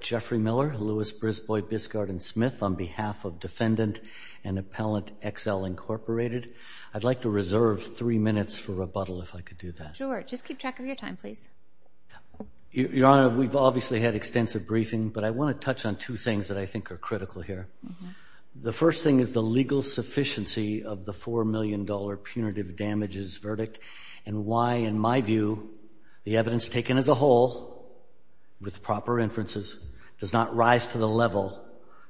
Jeffrey Miller, Lewis, Brisbois, Biscard, and Smith, on behalf of Defendant and Appellant Exel, Inc. I'd like to reserve three minutes for rebuttal, if I could do that. MS. MOUTAL, DEFENDANT, EXEL, INC. Sure. Just keep track of your time, please. MR. MOUTAL, DEFENDANT, EXEL, INC. Your Honor, we've obviously had extensive briefing, but I want to touch on two things that I think are critical here. The first thing is the legal sufficiency of the $4 million punitive damages verdict and why, in my view, the evidence taken as a whole, with proper inferences, does not rise to the level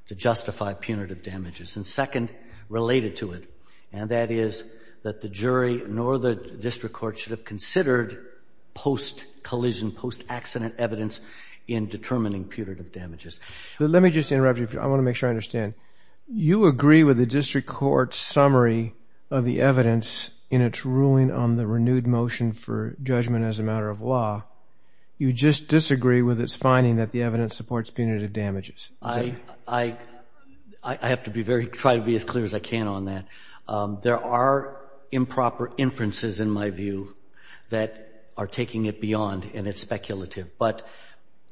to justify punitive damages. And second, related to it, and that is that the jury nor the district court should have considered post-collision, post-accident evidence in determining punitive damages. JUDGE LEBEN Let me just interrupt you. I want to make sure I understand. You agree with the district court's summary of the evidence in its ruling on the renewed motion for judgment as a matter of law. You just disagree with its finding that the evidence supports punitive damages. Is that right? MR. MOUTAL, DEFENDANT, EXEL, INC. I have to be as clear as I can on that. There are improper inferences, in my view, that are taking it beyond and it's speculative. But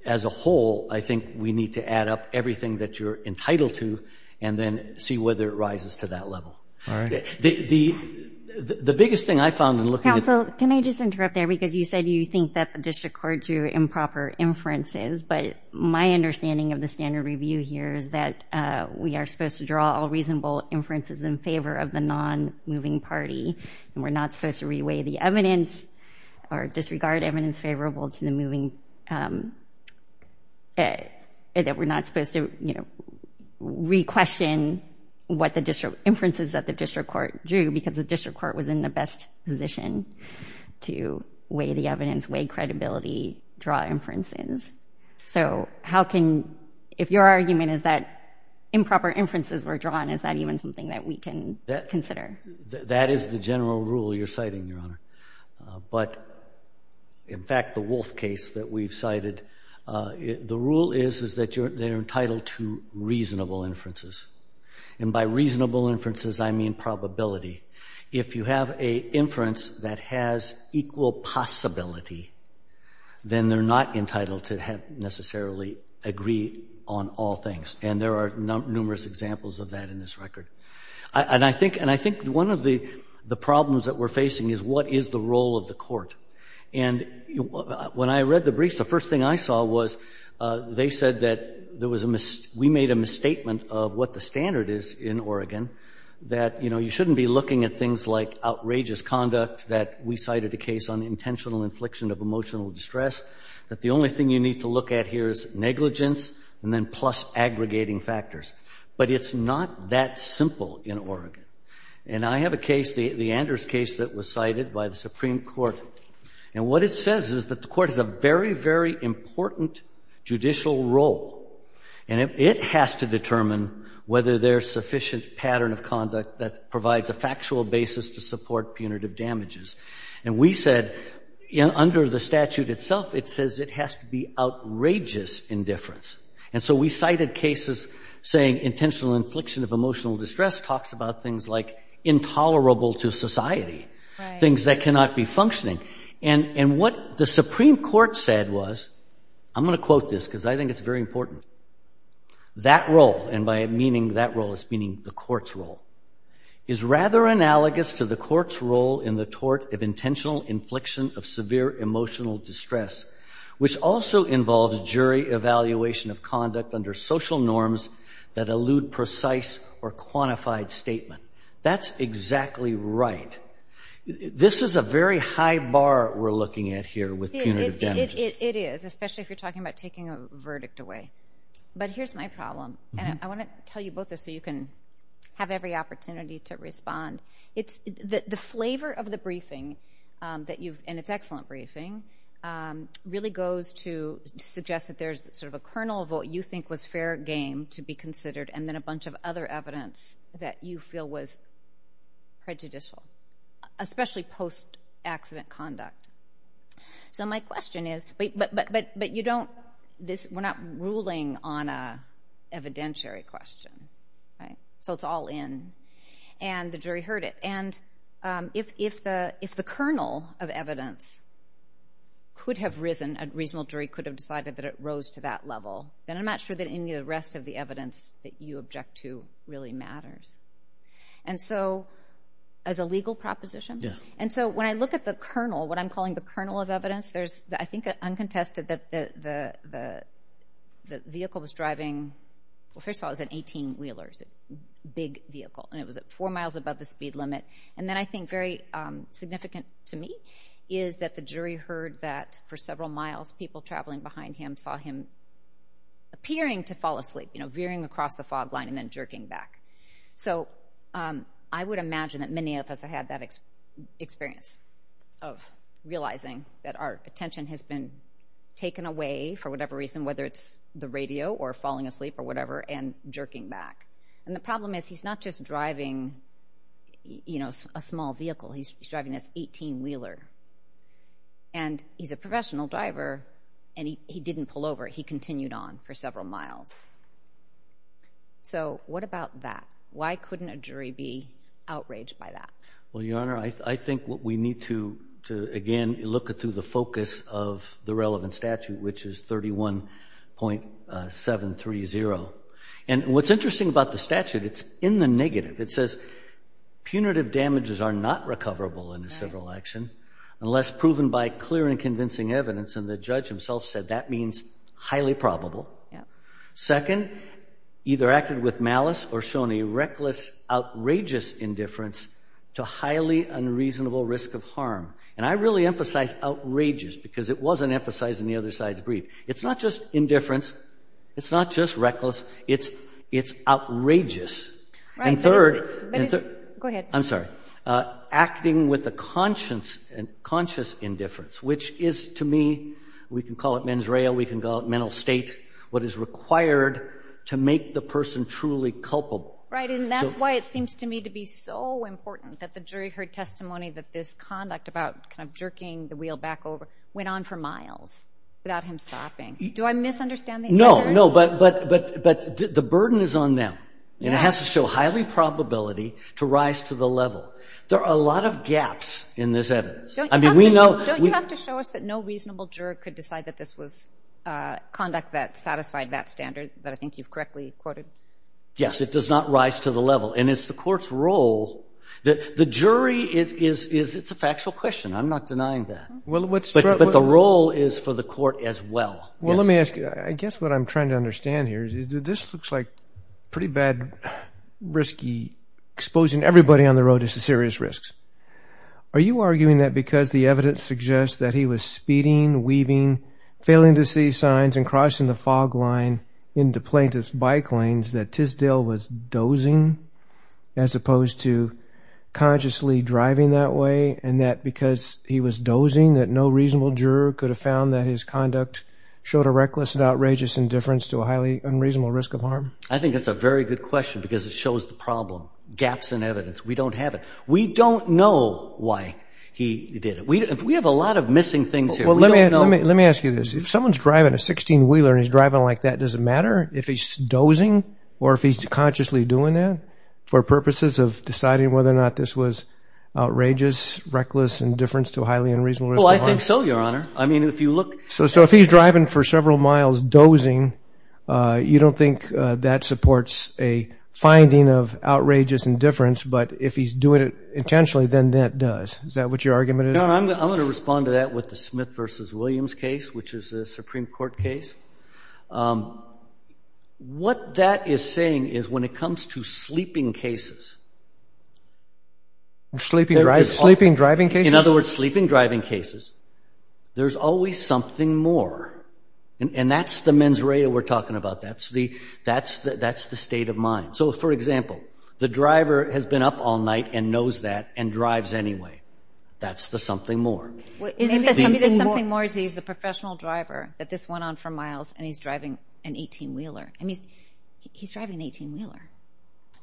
as a whole, I think we need to add up everything that you're entitled to and then see whether it rises to that level. The biggest thing I found in looking at the… JUDGE LEBEN Counsel, can I just interrupt there? Because you said you think that the district court drew improper inferences, but my understanding of the standard review here is that we are supposed to draw all reasonable inferences in favor of the non-moving party and we're not supposed to re-weigh the evidence or disregard evidence favorable to the moving… that we're not supposed to, you know, re-question what the inferences that the district court drew because the district court was in the best position to weigh the evidence, weigh credibility, draw inferences. So how can… if your argument is that improper inferences were drawn, is that even something that we can consider? MR. MOUTAL That is the general rule you're citing, Your Honor. But, in fact, the Wolf case that we've cited, the rule is that you're entitled to reasonable inferences. And by reasonable inferences, I mean probability. If you have an inference that has equal possibility, then they're not entitled to necessarily agree on all things. And there are numerous examples of that in this record. And I think one of the problems that we're facing is what is the role of the court? And when I read the briefs, the first thing I saw was they said that there was a… we made a misstatement of what the standard is in Oregon, that, you know, you shouldn't be looking at things like outrageous conduct that we cited a case on intentional infliction of emotional distress, that the only thing you need to look at here is negligence and then plus aggregating factors. But it's not that simple in Oregon. And I have a case, the Anders case that was cited by the Supreme Court. And what it says is that the court has a very, very important judicial role. And it has to determine whether there's sufficient pattern of conduct that provides a factual basis to support punitive damages. And we said under the statute itself, it says it has to be outrageous indifference. And so we cited cases saying intentional infliction of emotional distress talks about things like intolerable to society, things that cannot be functioning. And what the Supreme Court said was, I'm going to quote this because I think it's very important, that role, and by meaning that role, it's meaning the court's role, is rather analogous to the court's role in the tort of intentional infliction of severe emotional distress, which also involves jury evaluation of conduct under social norms that allude precise or quantified statement. That's exactly right. This is a very high bar we're looking at here with punitive damages. It is, especially if you're talking about taking a verdict away. But here's my problem. And I want to tell you both this so you can have every opportunity to respond. The flavor of the briefing, and it's an excellent briefing, really goes to suggest that there's sort of a kernel of what you think was fair game to be considered, and then a bunch of other prejudicial, especially post-accident conduct. So my question is, but you don't, we're not ruling on an evidentiary question, right? So it's all in, and the jury heard it. And if the kernel of evidence could have risen, a reasonable jury could have decided that it rose to that level, then I'm not sure that any of the rest of the evidence that you object to really matters. And so, as a legal proposition, and so when I look at the kernel, what I'm calling the kernel of evidence, there's, I think uncontested, that the vehicle was driving, well first of all, it was an 18-wheeler, a big vehicle, and it was at four miles above the speed limit. And then I think very significant to me is that the jury heard that for several miles, people traveling behind him saw him appearing to cross the fog line and then jerking back. So I would imagine that many of us have had that experience of realizing that our attention has been taken away, for whatever reason, whether it's the radio or falling asleep or whatever, and jerking back. And the problem is he's not just driving, you know, a small vehicle, he's driving this 18-wheeler. And he's a professional driver, and he didn't pull over, he continued on for several miles. So what about that? Why couldn't a jury be outraged by that? Well, Your Honor, I think what we need to, again, look through the focus of the relevant statute, which is 31.730. And what's interesting about the statute, it's in the negative. It says punitive damages are not recoverable in a civil action unless proven by clear and convincing evidence. And the judge himself said that means highly probable. Second, either acted with malice or shown a reckless, outrageous indifference to highly unreasonable risk of harm. And I really emphasize outrageous because it wasn't emphasized in the other side's brief. It's not just indifference, it's not just reckless, it's outrageous. And third, acting with a conscious indifference, which is, to me, we can call it mens rea, we can call it mental state, what is required to make the person truly culpable. Right, and that's why it seems to me to be so important that the jury heard testimony that this conduct about kind of jerking the wheel back over went on for miles without him stopping. Do I misunderstand the answer? No, no, but the burden is on them. And it has to show highly probability to rise to the level. There are a lot of gaps in this evidence. I mean, we know... Don't you have to show us that no reasonable juror could decide that this was conduct that satisfied that standard that I think you've correctly quoted? Yes, it does not rise to the level. And it's the court's role that the jury is, it's a factual question. I'm not denying that. But the role is for the court as well. Well, let me ask you, I guess what I'm trying to understand here is that this looks like on the road to serious risks. Are you arguing that because the evidence suggests that he was speeding, weaving, failing to see signs and crossing the fog line into plaintiff's bike lanes that Tisdale was dozing as opposed to consciously driving that way? And that because he was dozing that no reasonable juror could have found that his conduct showed a reckless and outrageous indifference to a highly unreasonable risk of harm? I think it's a very good question because it shows the problem. Gaps in evidence. We don't have it. We don't know why he did it. We have a lot of missing things here. Well, let me ask you this. If someone's driving a 16-wheeler and he's driving like that, does it matter if he's dozing or if he's consciously doing that for purposes of deciding whether or not this was outrageous, reckless, indifference to a highly unreasonable risk of harm? Well, I think so, Your Honor. I mean, if you look... So if he's driving for several miles dozing, you don't think that supports a finding of if he's doing it intentionally, then that does? Is that what your argument is? No, I'm going to respond to that with the Smith v. Williams case, which is a Supreme Court case. What that is saying is when it comes to sleeping cases... Sleeping driving cases? In other words, sleeping driving cases, there's always something more. And that's the mens reda we're talking about. That's the state of mind. So, for example, the driver has been up all night and knows that and drives anyway. That's the something more. Maybe the something more is he's a professional driver, that this went on for miles and he's driving an 18-wheeler. I mean, he's driving an 18-wheeler.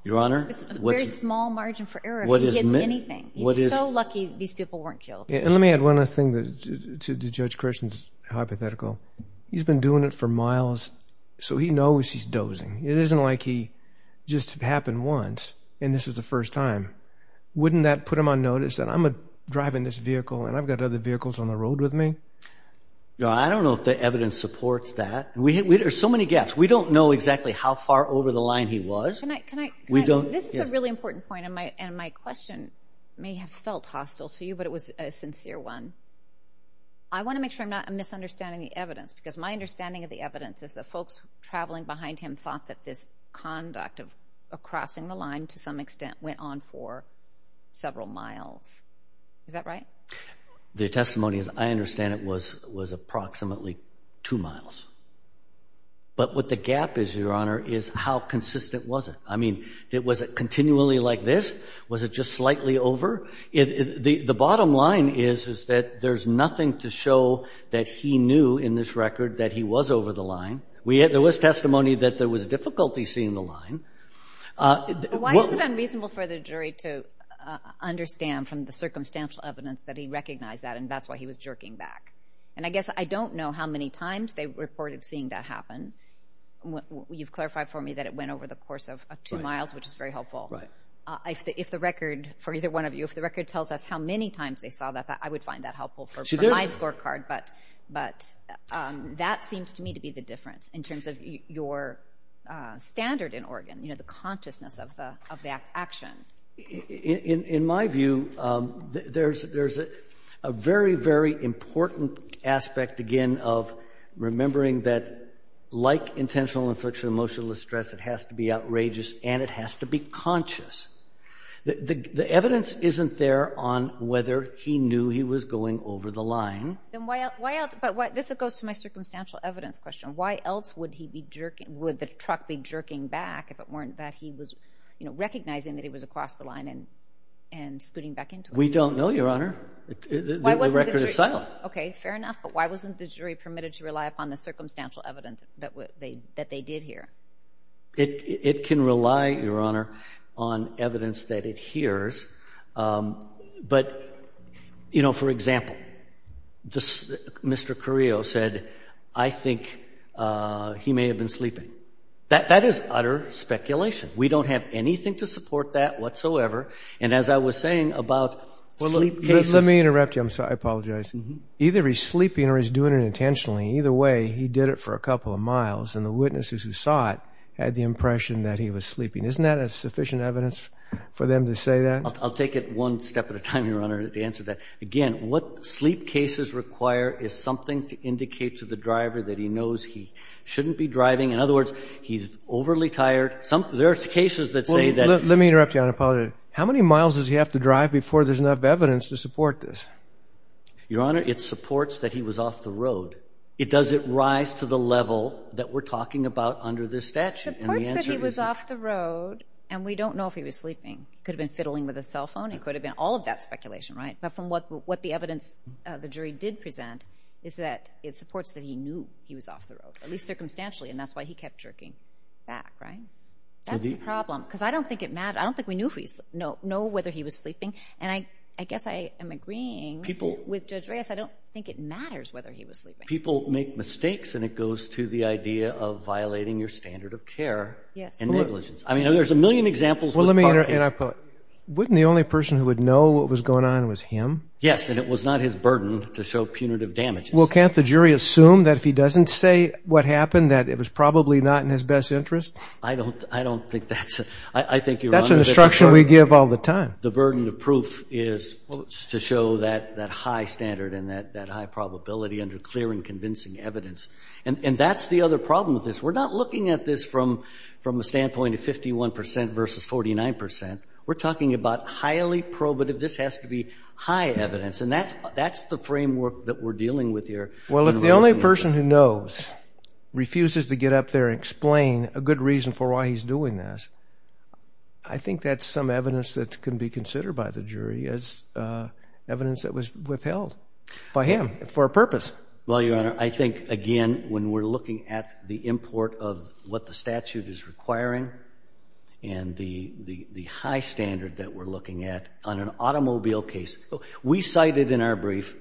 Your Honor... There's a very small margin for error if he hits anything. He's so lucky these people weren't killed. And let me add one other thing to Judge Christian's hypothetical. He's been doing it for miles, so he knows he's dozing. It isn't like he just happened once and this is the first time. Wouldn't that put him on notice that I'm driving this vehicle and I've got other vehicles on the road with me? Your Honor, I don't know if the evidence supports that. There's so many gaps. We don't know exactly how far over the line he was. We don't... This is a really important point, and my question may have felt hostile to you, but it was a sincere one. I want to make sure I'm not misunderstanding the evidence, because my understanding of the evidence is that folks traveling behind him thought that this conduct of crossing the line, to some extent, went on for several miles. Is that right? The testimony, as I understand it, was approximately two miles. But what the gap is, Your Honor, is how consistent was it? I mean, was it continually like this? Was it just slightly over? The bottom line is that there's nothing to show that he knew in this record that he was over the line. There was testimony that there was difficulty seeing the line. Why is it unreasonable for the jury to understand from the circumstantial evidence that he recognized that and that's why he was jerking back? And I guess I don't know how many times they reported seeing that happen. You've clarified for me that it went over the course of two miles, which is very helpful. Right. If the record, for either one of you, if the record tells us how many times they saw that, I would find that helpful for my scorecard. But that seems to me to be the difference in terms of your standard in Oregon, you know, the consciousness of the action. In my view, there's a very, very important aspect, again, of remembering that like intentional infliction of emotional distress, it has to be outrageous and it has to be conscious. The evidence isn't there on whether he knew he was going over the line. But this goes to my circumstantial evidence question. Why else would the truck be jerking back if it weren't that he was recognizing that he was across the line and scooting back into it? We don't know, Your Honor. The record is silent. Okay, fair enough. But why wasn't the jury permitted to rely upon the circumstantial evidence that they did here? It can rely, Your Honor, on evidence that it hears. But, you know, for example, Mr. Carrillo said, I think he may have been sleeping. That is utter speculation. We don't have anything to support that whatsoever. And as I was saying about sleep cases — Let me interrupt you. I'm sorry. I apologize. Either he's sleeping or he's doing it intentionally. Either way, he did it for a couple of miles and the witnesses who saw it had the impression that he was sleeping. Isn't that sufficient evidence for them to say that? I'll take it one step at a time, Your Honor, to answer that. Again, what sleep cases require is something to indicate to the driver that he knows he shouldn't be driving. In other words, he's overly tired. There's cases that say that — Let me interrupt you, Your Honor. I apologize. How many miles does he have to drive before there's enough evidence to support this? Your Honor, it supports that he was off the road. Does it rise to the level that we're talking about under this statute? It supports that he was off the road, and we don't know if he was sleeping. It could have been fiddling with his cell phone. It could have been all of that speculation, right? But from what the evidence the jury did present is that it supports that he knew he was off the road, at least circumstantially, and that's why he kept jerking back, right? That's the problem. Because I don't think it matters. I don't think we know whether he was sleeping. And I guess I am agreeing with Judge Reyes. I don't think it matters whether he was sleeping. People make mistakes, and it goes to the idea of violating your standard of care and negligence. I mean, there's a million examples with park issues. Well, let me interrupt you, and I apologize. Wasn't the only person who would know what was going on was him? Yes, and it was not his burden to show punitive damages. Well, can't the jury assume that if he doesn't say what happened, that it was probably not in his best interest? I don't think that's — I think, Your Honor — That's an instruction we give all the time. The burden of proof is to show that high standard and that high probability under clear and convincing evidence. And that's the other problem with this. We're not looking at this from a standpoint of 51 percent versus 49 percent. We're talking about highly probative — this has to be high evidence. And that's the framework that we're dealing with here. Well, if the only person who knows refuses to get up there and explain a good reason for why he's doing this, I think that's some evidence that can be considered by the jury as evidence that was withheld by him for a purpose. Well, Your Honor, I think, again, when we're looking at the import of what the statute is requiring and the high standard that we're looking at on an automobile case — we cited in our brief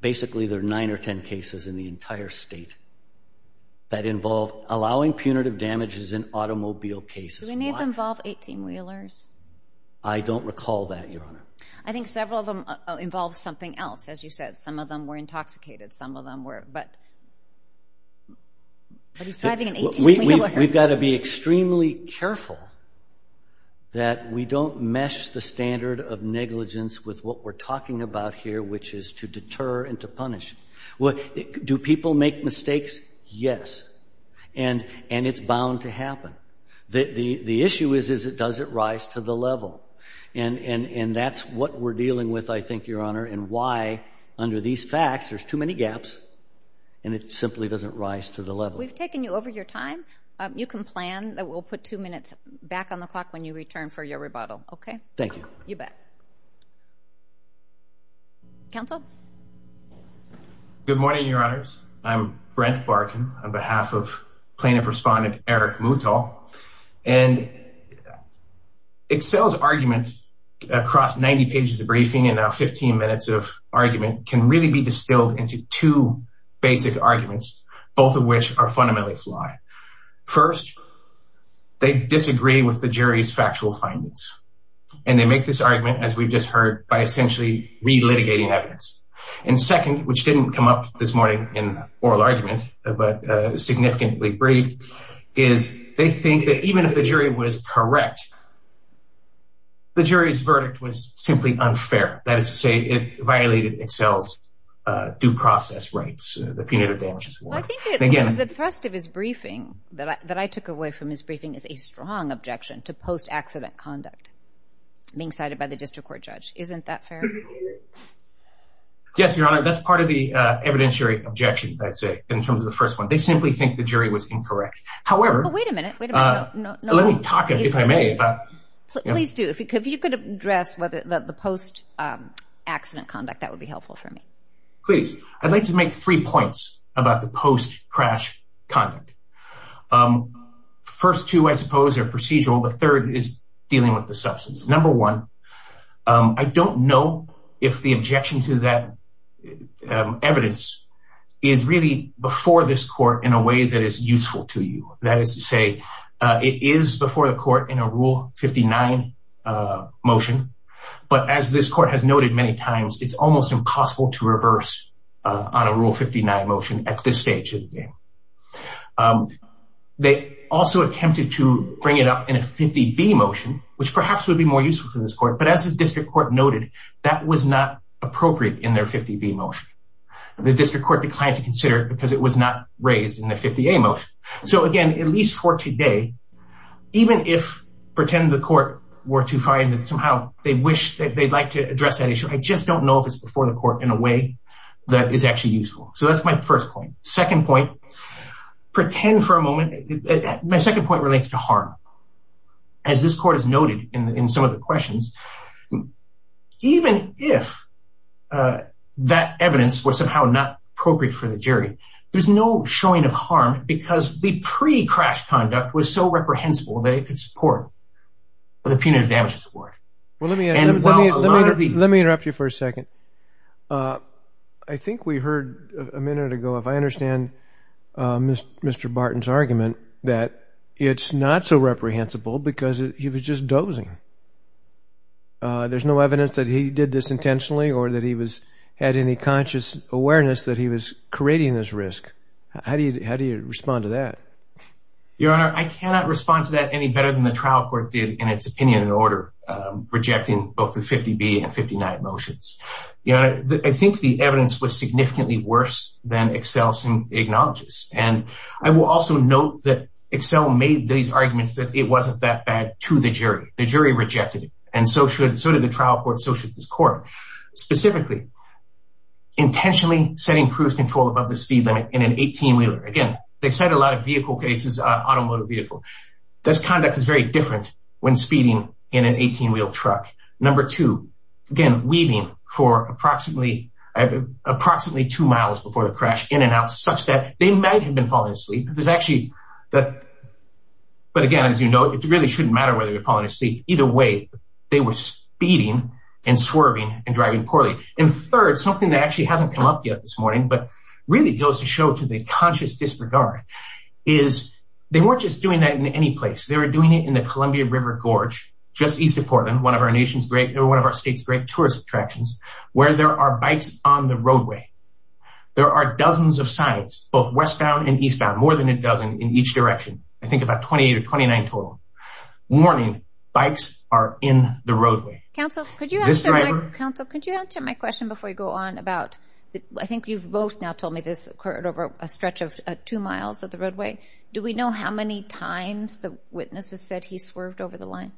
basically there are nine or 10 cases in the entire state that involve allowing punitive damages in automobile cases. Do any of them involve 18-wheelers? I don't recall that, Your Honor. I think several of them involve something else. As you said, some of them were intoxicated. Some of them were — but he's driving an 18-wheeler. We've got to be extremely careful that we don't mesh the standard of negligence with what we're talking about here, which is to deter and to punish. Do people make mistakes? Yes. And it's bound to happen. The issue is, does it rise to the level? And that's what we're dealing with, I think, Your Honor, and why under these facts there's too many gaps and it simply doesn't rise to the level. We've taken you over your time. You can plan. We'll put two minutes back on the clock when you return for your rebuttal, okay? Thank you. You bet. Counsel? Good morning, Your Honors. I'm Brent Barton on behalf of Plaintiff Respondent Eric Mouton. And Excel's argument across 90 pages of briefing and now 15 minutes of argument can really be distilled into two basic arguments, both of which are fundamentally flawed. First, they disagree with the jury's factual findings. And they make this argument, as we've just heard, by essentially re-litigating evidence. And second, which didn't come up this morning in oral argument, but significantly briefed, is they think that even if the jury was correct, the jury's verdict was simply unfair. That is to say, it violated Excel's due process rights, the punitive damages award. Well, I think the thrust of his briefing that I took away from his briefing is a strong objection to post-accident conduct, being cited by the district court judge. Isn't that fair? Yes, Your Honor. That's part of the evidentiary objection, I'd say, in terms of the first one. They simply think the jury was incorrect. However... Oh, wait a minute. Wait a minute. No, no. Let me talk, if I may, about... Please do. If you could address the post-accident conduct, that would be helpful for me. Please. I'd like to make three points about the post-crash conduct. First two, I suppose, are procedural. The third is dealing with the substance. Number one, I don't know if the objection to that evidence is really before this court in a way that is useful to you. That is to say, it is before the court in a Rule 59 motion. But as this court has noted many times, it's almost impossible to reverse on a Rule 59 motion at this stage of the game. They also attempted to bring it up in a 50B motion, which perhaps would be more useful to this court. But as the district court noted, that was not appropriate in their 50B motion. The district court declined to consider it because it was not raised in the 50A motion. So again, at least for today, even if, pretend the court were to find that somehow they wish that they'd like to address that issue, I just don't know if it's before the court in a way that is actually useful. So that's my first point. Second point, pretend for a moment, my second point relates to harm. As this court has noted in some of the questions, even if that evidence was somehow not appropriate for the jury, there's no showing of harm because the pre-crash conduct was so reprehensible that it could support the punitive damages award. Well, let me interrupt you for a second. I think we heard a minute ago, if I understand Mr. Barton's argument, that it's not so reprehensible because he was just dozing. There's no evidence that he did this intentionally or that he had any conscious awareness that he was creating this risk. How do you respond to that? Your Honor, I cannot respond to that any better than the trial court did in its opinion and order rejecting both the 50B and 59 motions. I think the evidence was significantly worse than Excel acknowledges. And I will also note that Excel made these arguments that it wasn't that bad to the jury. The jury rejected it and so did the trial court, so should this court. Specifically, intentionally setting cruise control above the speed limit in an 18-wheeler. Again, they said a lot of vehicle cases, automotive vehicle. This conduct is very different when speeding in an 18-wheel truck. Number two, again, weaving for approximately two miles before the crash in and out such that they might have been falling asleep. But again, as you know, it really shouldn't matter whether they're falling asleep. Either way, they were speeding and swerving and driving poorly. And third, something that actually hasn't come up yet this morning, but really goes to show to the conscious disregard, is they weren't just doing that in any place. They were doing it in the Columbia River Gorge, just east of Portland, one of our state's great tourist attractions, where there are bikes on the roadway. There are dozens of sites, both westbound and eastbound, more than a dozen in each direction. I think about 28 or 29 total. Warning, bikes are in the roadway. Counsel, could you answer my question before you go on about, I think you've both now told me this occurred over a stretch of two miles of the roadway. Do we know how many times the witnesses said he swerved over the line?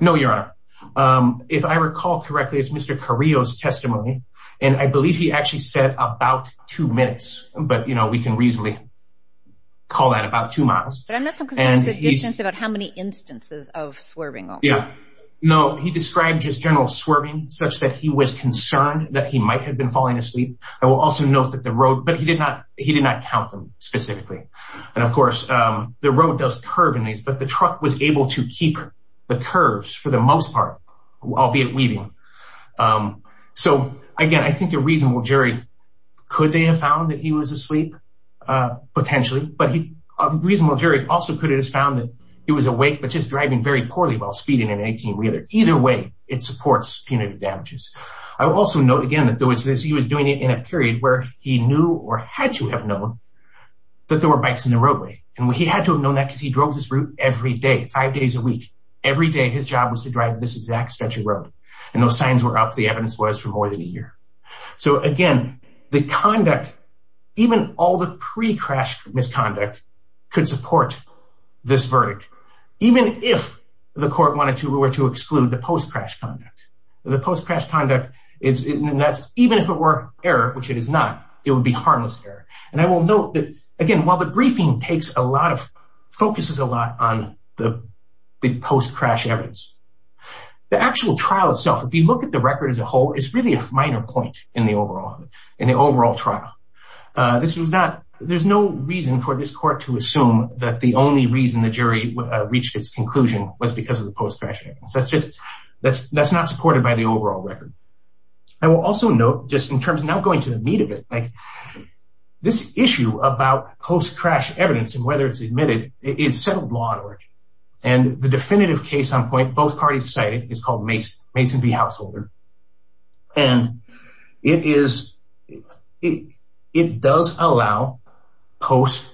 No, Your Honor. If I recall correctly, it's Mr. Carrillo's testimony. And I believe he actually said about two minutes. But, you know, we can reasonably call that about two miles. But I'm not so concerned about the distance, about how many instances of swerving. Yeah. No, he described just general swerving, such that he was concerned that he might have been falling asleep. I will also note that the road, but he did not, he did not count them specifically. And of course, the road does curve in these, but the truck was able to keep the curves for the most part, albeit weaving. So again, I think a reasonable jury, could they have found that he was asleep? Potentially, but a reasonable jury also could have found that he was awake, but just driving very poorly while speeding in an 18-wheeler. Either way, it supports punitive damages. I will also note again that he was doing it in a period where he knew or had to have known that there were bikes in the roadway. And he had to have known that because he drove this route every day, five days a week. Every day, his job was to drive this exact stretch of road. And those signs were up, the evidence was, for more than a year. So again, the conduct, even all the pre-crash misconduct, could support this verdict, even if the court wanted to or were to exclude the post-crash conduct. The post-crash conduct is, even if it were error, which it is not, it would be harmless error. And I will note that, again, while the briefing takes a lot of, focuses a lot on the post-crash evidence, the actual trial itself, if you look at the record as a whole, it's really a minor point in the overall, in the overall trial. This was not, there's no reason for this court to assume that the only reason the jury reached its conclusion was because of the post-crash evidence. That's just, that's not supported by the overall record. I will also note, just in terms of now going to the meat of it, like, this issue about post-crash evidence and whether it's admitted is settled law and order. And the definitive case on point, both parties cited, is called Mason v. Householder. And it is, it does allow post,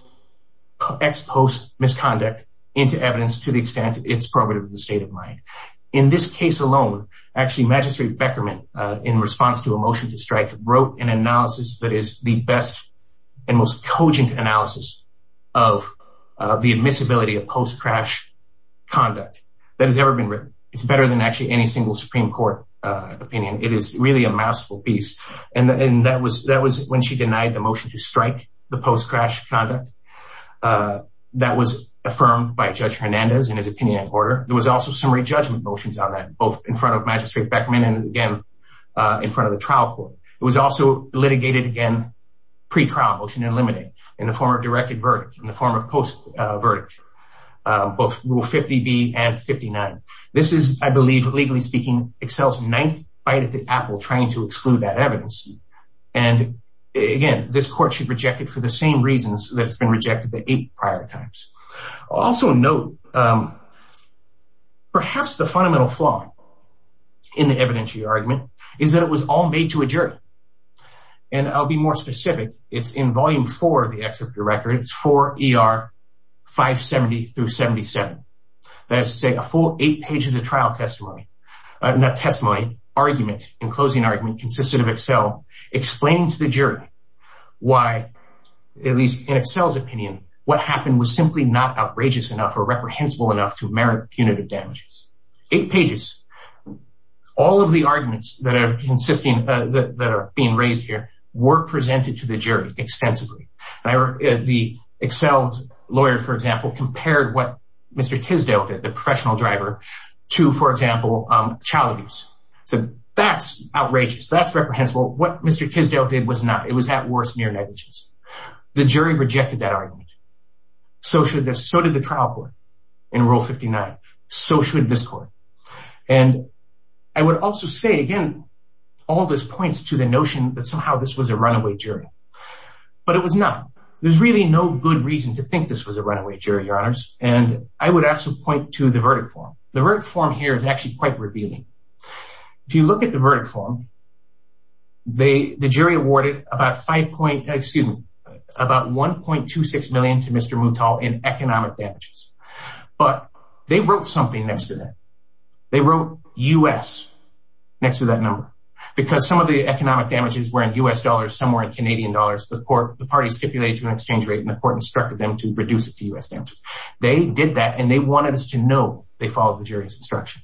ex-post misconduct into evidence to the jury. In this case alone, actually, Magistrate Beckerman, in response to a motion to strike, wrote an analysis that is the best and most cogent analysis of the admissibility of post-crash conduct that has ever been written. It's better than actually any single Supreme Court opinion. It is really a mouthful piece. And that was, that was when she denied the motion to strike the post-crash conduct that was affirmed by Judge Hernandez in his opinion and order. There was also summary judgment motions on that, both in front of Magistrate Beckerman and again, in front of the trial court. It was also litigated again, pre-trial motion eliminated in the form of directed verdict, in the form of post-verdict, both Rule 50B and 59. This is, I believe, legally speaking, Excel's ninth bite at the apple trying to exclude that evidence. And again, this court should reject it for the same reasons that it's been rejected the eight prior times. Also note, perhaps the fundamental flaw in the evidentiary argument is that it was all made to a jury. And I'll be more specific. It's in Volume 4 of the Executive Record. It's 4 ER 570 through 77. That is to say, a full eight pages of trial testimony, not testimony, argument and closing argument consisted of Excel explaining to the jury why, at least in Excel's opinion, what happened was simply not outrageous enough or reprehensible enough to merit punitive damages. Eight pages. All of the arguments that are being raised here were presented to the jury extensively. The Excel's lawyer, for example, compared what Mr. Tisdale did, the professional driver, to, for example, child abuse. So that's outrageous. That's reprehensible. What Mr. Tisdale did was not. It was, at worst, mere negligence. The jury rejected that argument. So should this. So did the trial court in Rule 59. So should this court. And I would also say, again, all this points to the notion that somehow this was a runaway jury, but it was not. There's really no good reason to think this was a runaway jury, Your Honors. And I would also point to the verdict form. The verdict form here is actually quite revealing. If you look at the verdict form. The jury awarded about five point, excuse me, about one point two six million to Mr. Moutal in economic damages, but they wrote something next to that. They wrote U.S. next to that number because some of the economic damages were in U.S. dollars, some were in Canadian dollars. The court, the party stipulated to an exchange rate and the court instructed them to reduce it to U.S. damages. They did that and they wanted us to know they followed the jury's instruction.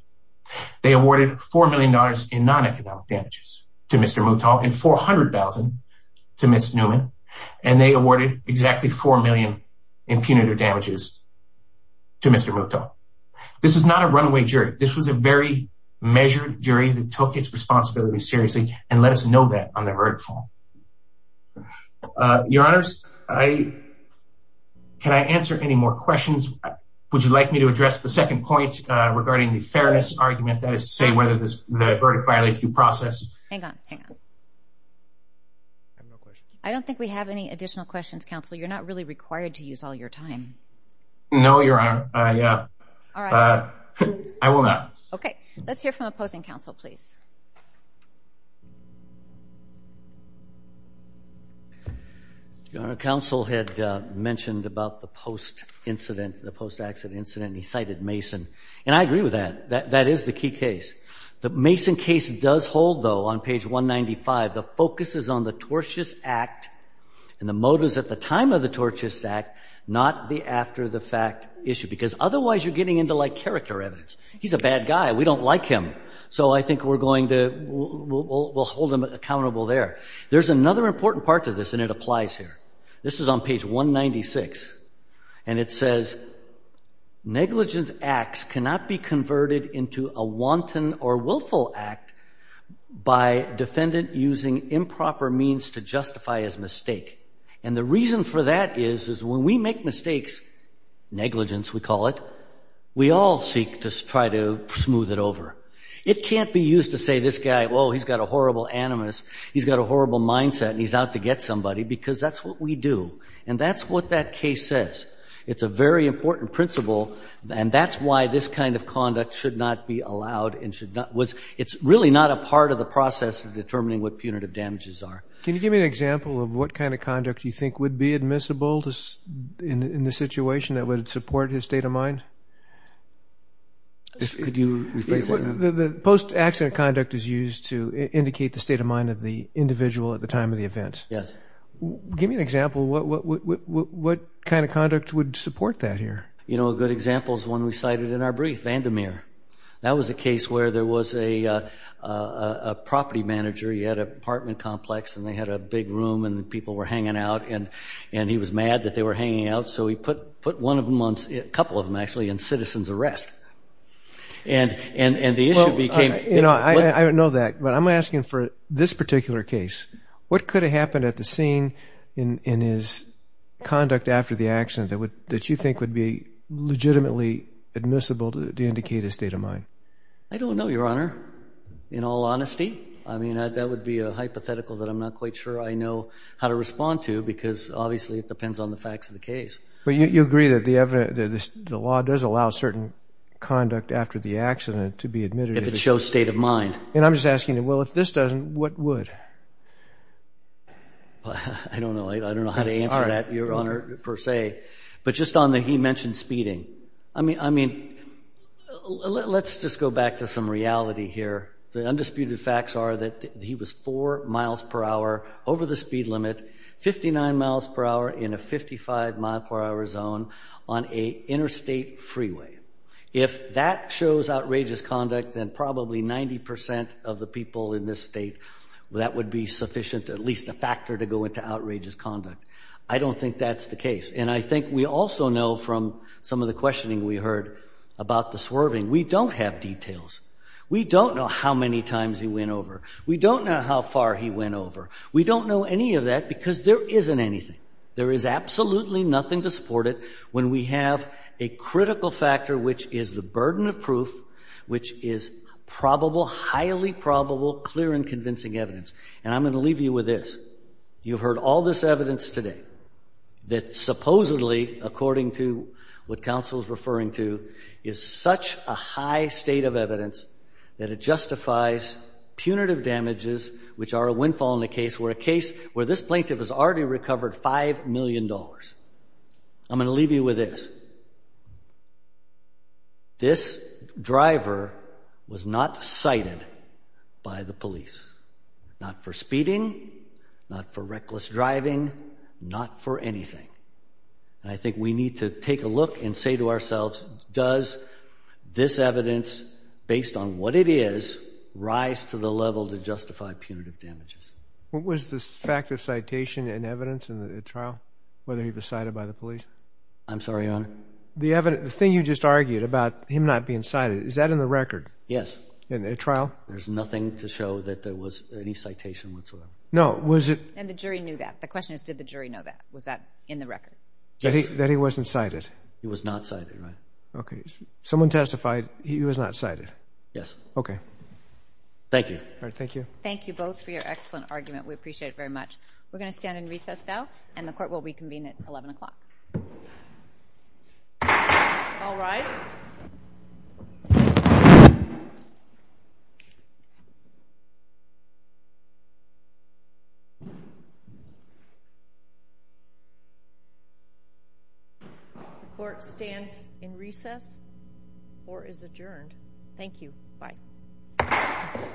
They awarded four million dollars in non-economic damages to Mr. Moutal and 400,000 to Ms. Newman. And they awarded exactly four million in punitive damages to Mr. Moutal. This is not a runaway jury. This was a very measured jury that took its responsibility seriously. And let us know that on the verdict form. Your Honors, can I answer any more questions? Would you like me to address the second point regarding the fairness argument that is to say whether this verdict violates due process? Hang on, hang on. I don't think we have any additional questions, counsel. You're not really required to use all your time. No, Your Honor. I will not. OK, let's hear from opposing counsel, please. Your Honor, counsel had mentioned about the post incident, the post accident incident. He cited Mason and I agree with that. That is the key case. The Mason case does hold, though, on page 195, the focus is on the tortious act and the motives at the time of the tortious act, not the after the fact issue, because otherwise you're getting into like character evidence. He's a bad guy. We don't like him. So I think we're going to hold him accountable there. There's another important part to this and it applies here. This is on page 196 and it says negligent acts cannot be converted into a wanton or willful act by defendant using improper means to justify his mistake. And the reason for that is, is when we make mistakes, negligence we call it, we all seek to try to smooth it over. It can't be used to say this guy, oh, he's got a horrible animus. He's got a horrible mindset and he's out to get somebody because that's what we do. And that's what that case says. It's a very important principle. And that's why this kind of conduct should not be allowed and should not was it's really not a part of the process of determining what punitive damages are. Can you give me an example of what kind of conduct you think would be admissible in the situation that would support his state of mind? The post-accident conduct is used to indicate the state of mind of the individual at the time of the event. Yes. Give me an example. What kind of conduct would support that here? You know, a good example is one we cited in our brief, Vandermeer. That was a case where there was a property manager. He had an apartment complex and they had a big room and people were hanging out and he was mad that they were hanging out. I don't know that, but I'm asking for this particular case. What could have happened at the scene in his conduct after the accident that you think would be legitimately admissible to indicate his state of mind? I don't know, Your Honor, in all honesty. I mean, that would be a hypothetical that I'm not quite sure I know how to respond to because obviously it depends on the facts of the case. But you agree that the law does allow certain conduct after the accident to be admitted if it shows state of mind. And I'm just asking, well, if this doesn't, what would? I don't know. I don't know how to answer that, Your Honor, per se. But just on the, he mentioned speeding. I mean, let's just go back to some reality here. The undisputed facts are that he was four miles per hour over the speed limit, 59 miles per hour in a 55 mile per hour zone on a interstate freeway. If that shows outrageous conduct, then probably 90 percent of the people in this state, that would be sufficient, at least a factor, to go into outrageous conduct. I don't think that's the case. And I think we also know from some of the questioning we heard about the swerving, we don't have details. We don't know how many times he went over. We don't know how far he went over. We don't know any of that because there isn't anything. There is absolutely nothing to support it when we have a critical factor, which is the burden of proof, which is probable, highly probable, clear and convincing evidence. And I'm going to leave you with this. You've heard all this evidence today that supposedly, according to what counsel is referring to, is such a high state of evidence that it justifies punitive damages, which are a windfall in the case where a case where this plaintiff has already recovered $5 million. I'm going to leave you with this. This driver was not cited by the police, not for speeding, not for reckless driving, not for anything. And I think we need to take a look and say to ourselves, does this evidence, based on what it is, rise to the level to justify punitive damages? What was the fact of citation and evidence in the trial, whether he was cited by the police? I'm sorry, Your Honor. The thing you just argued about him not being cited, is that in the record? Yes. In the trial? There's nothing to show that there was any citation whatsoever. No, was it? And the jury knew that. The question is, did the jury know that? Was that in the record? That he wasn't cited? He was not cited, Your Honor. Okay. Someone testified he was not cited. Yes. Okay. Thank you. All right. Thank you. Thank you both for your excellent argument. We appreciate it very much. We're going to stand in recess now, and the court will reconvene at 11 o'clock. All rise. The court stands in recess or is adjourned. Thank you. Bye. Bye.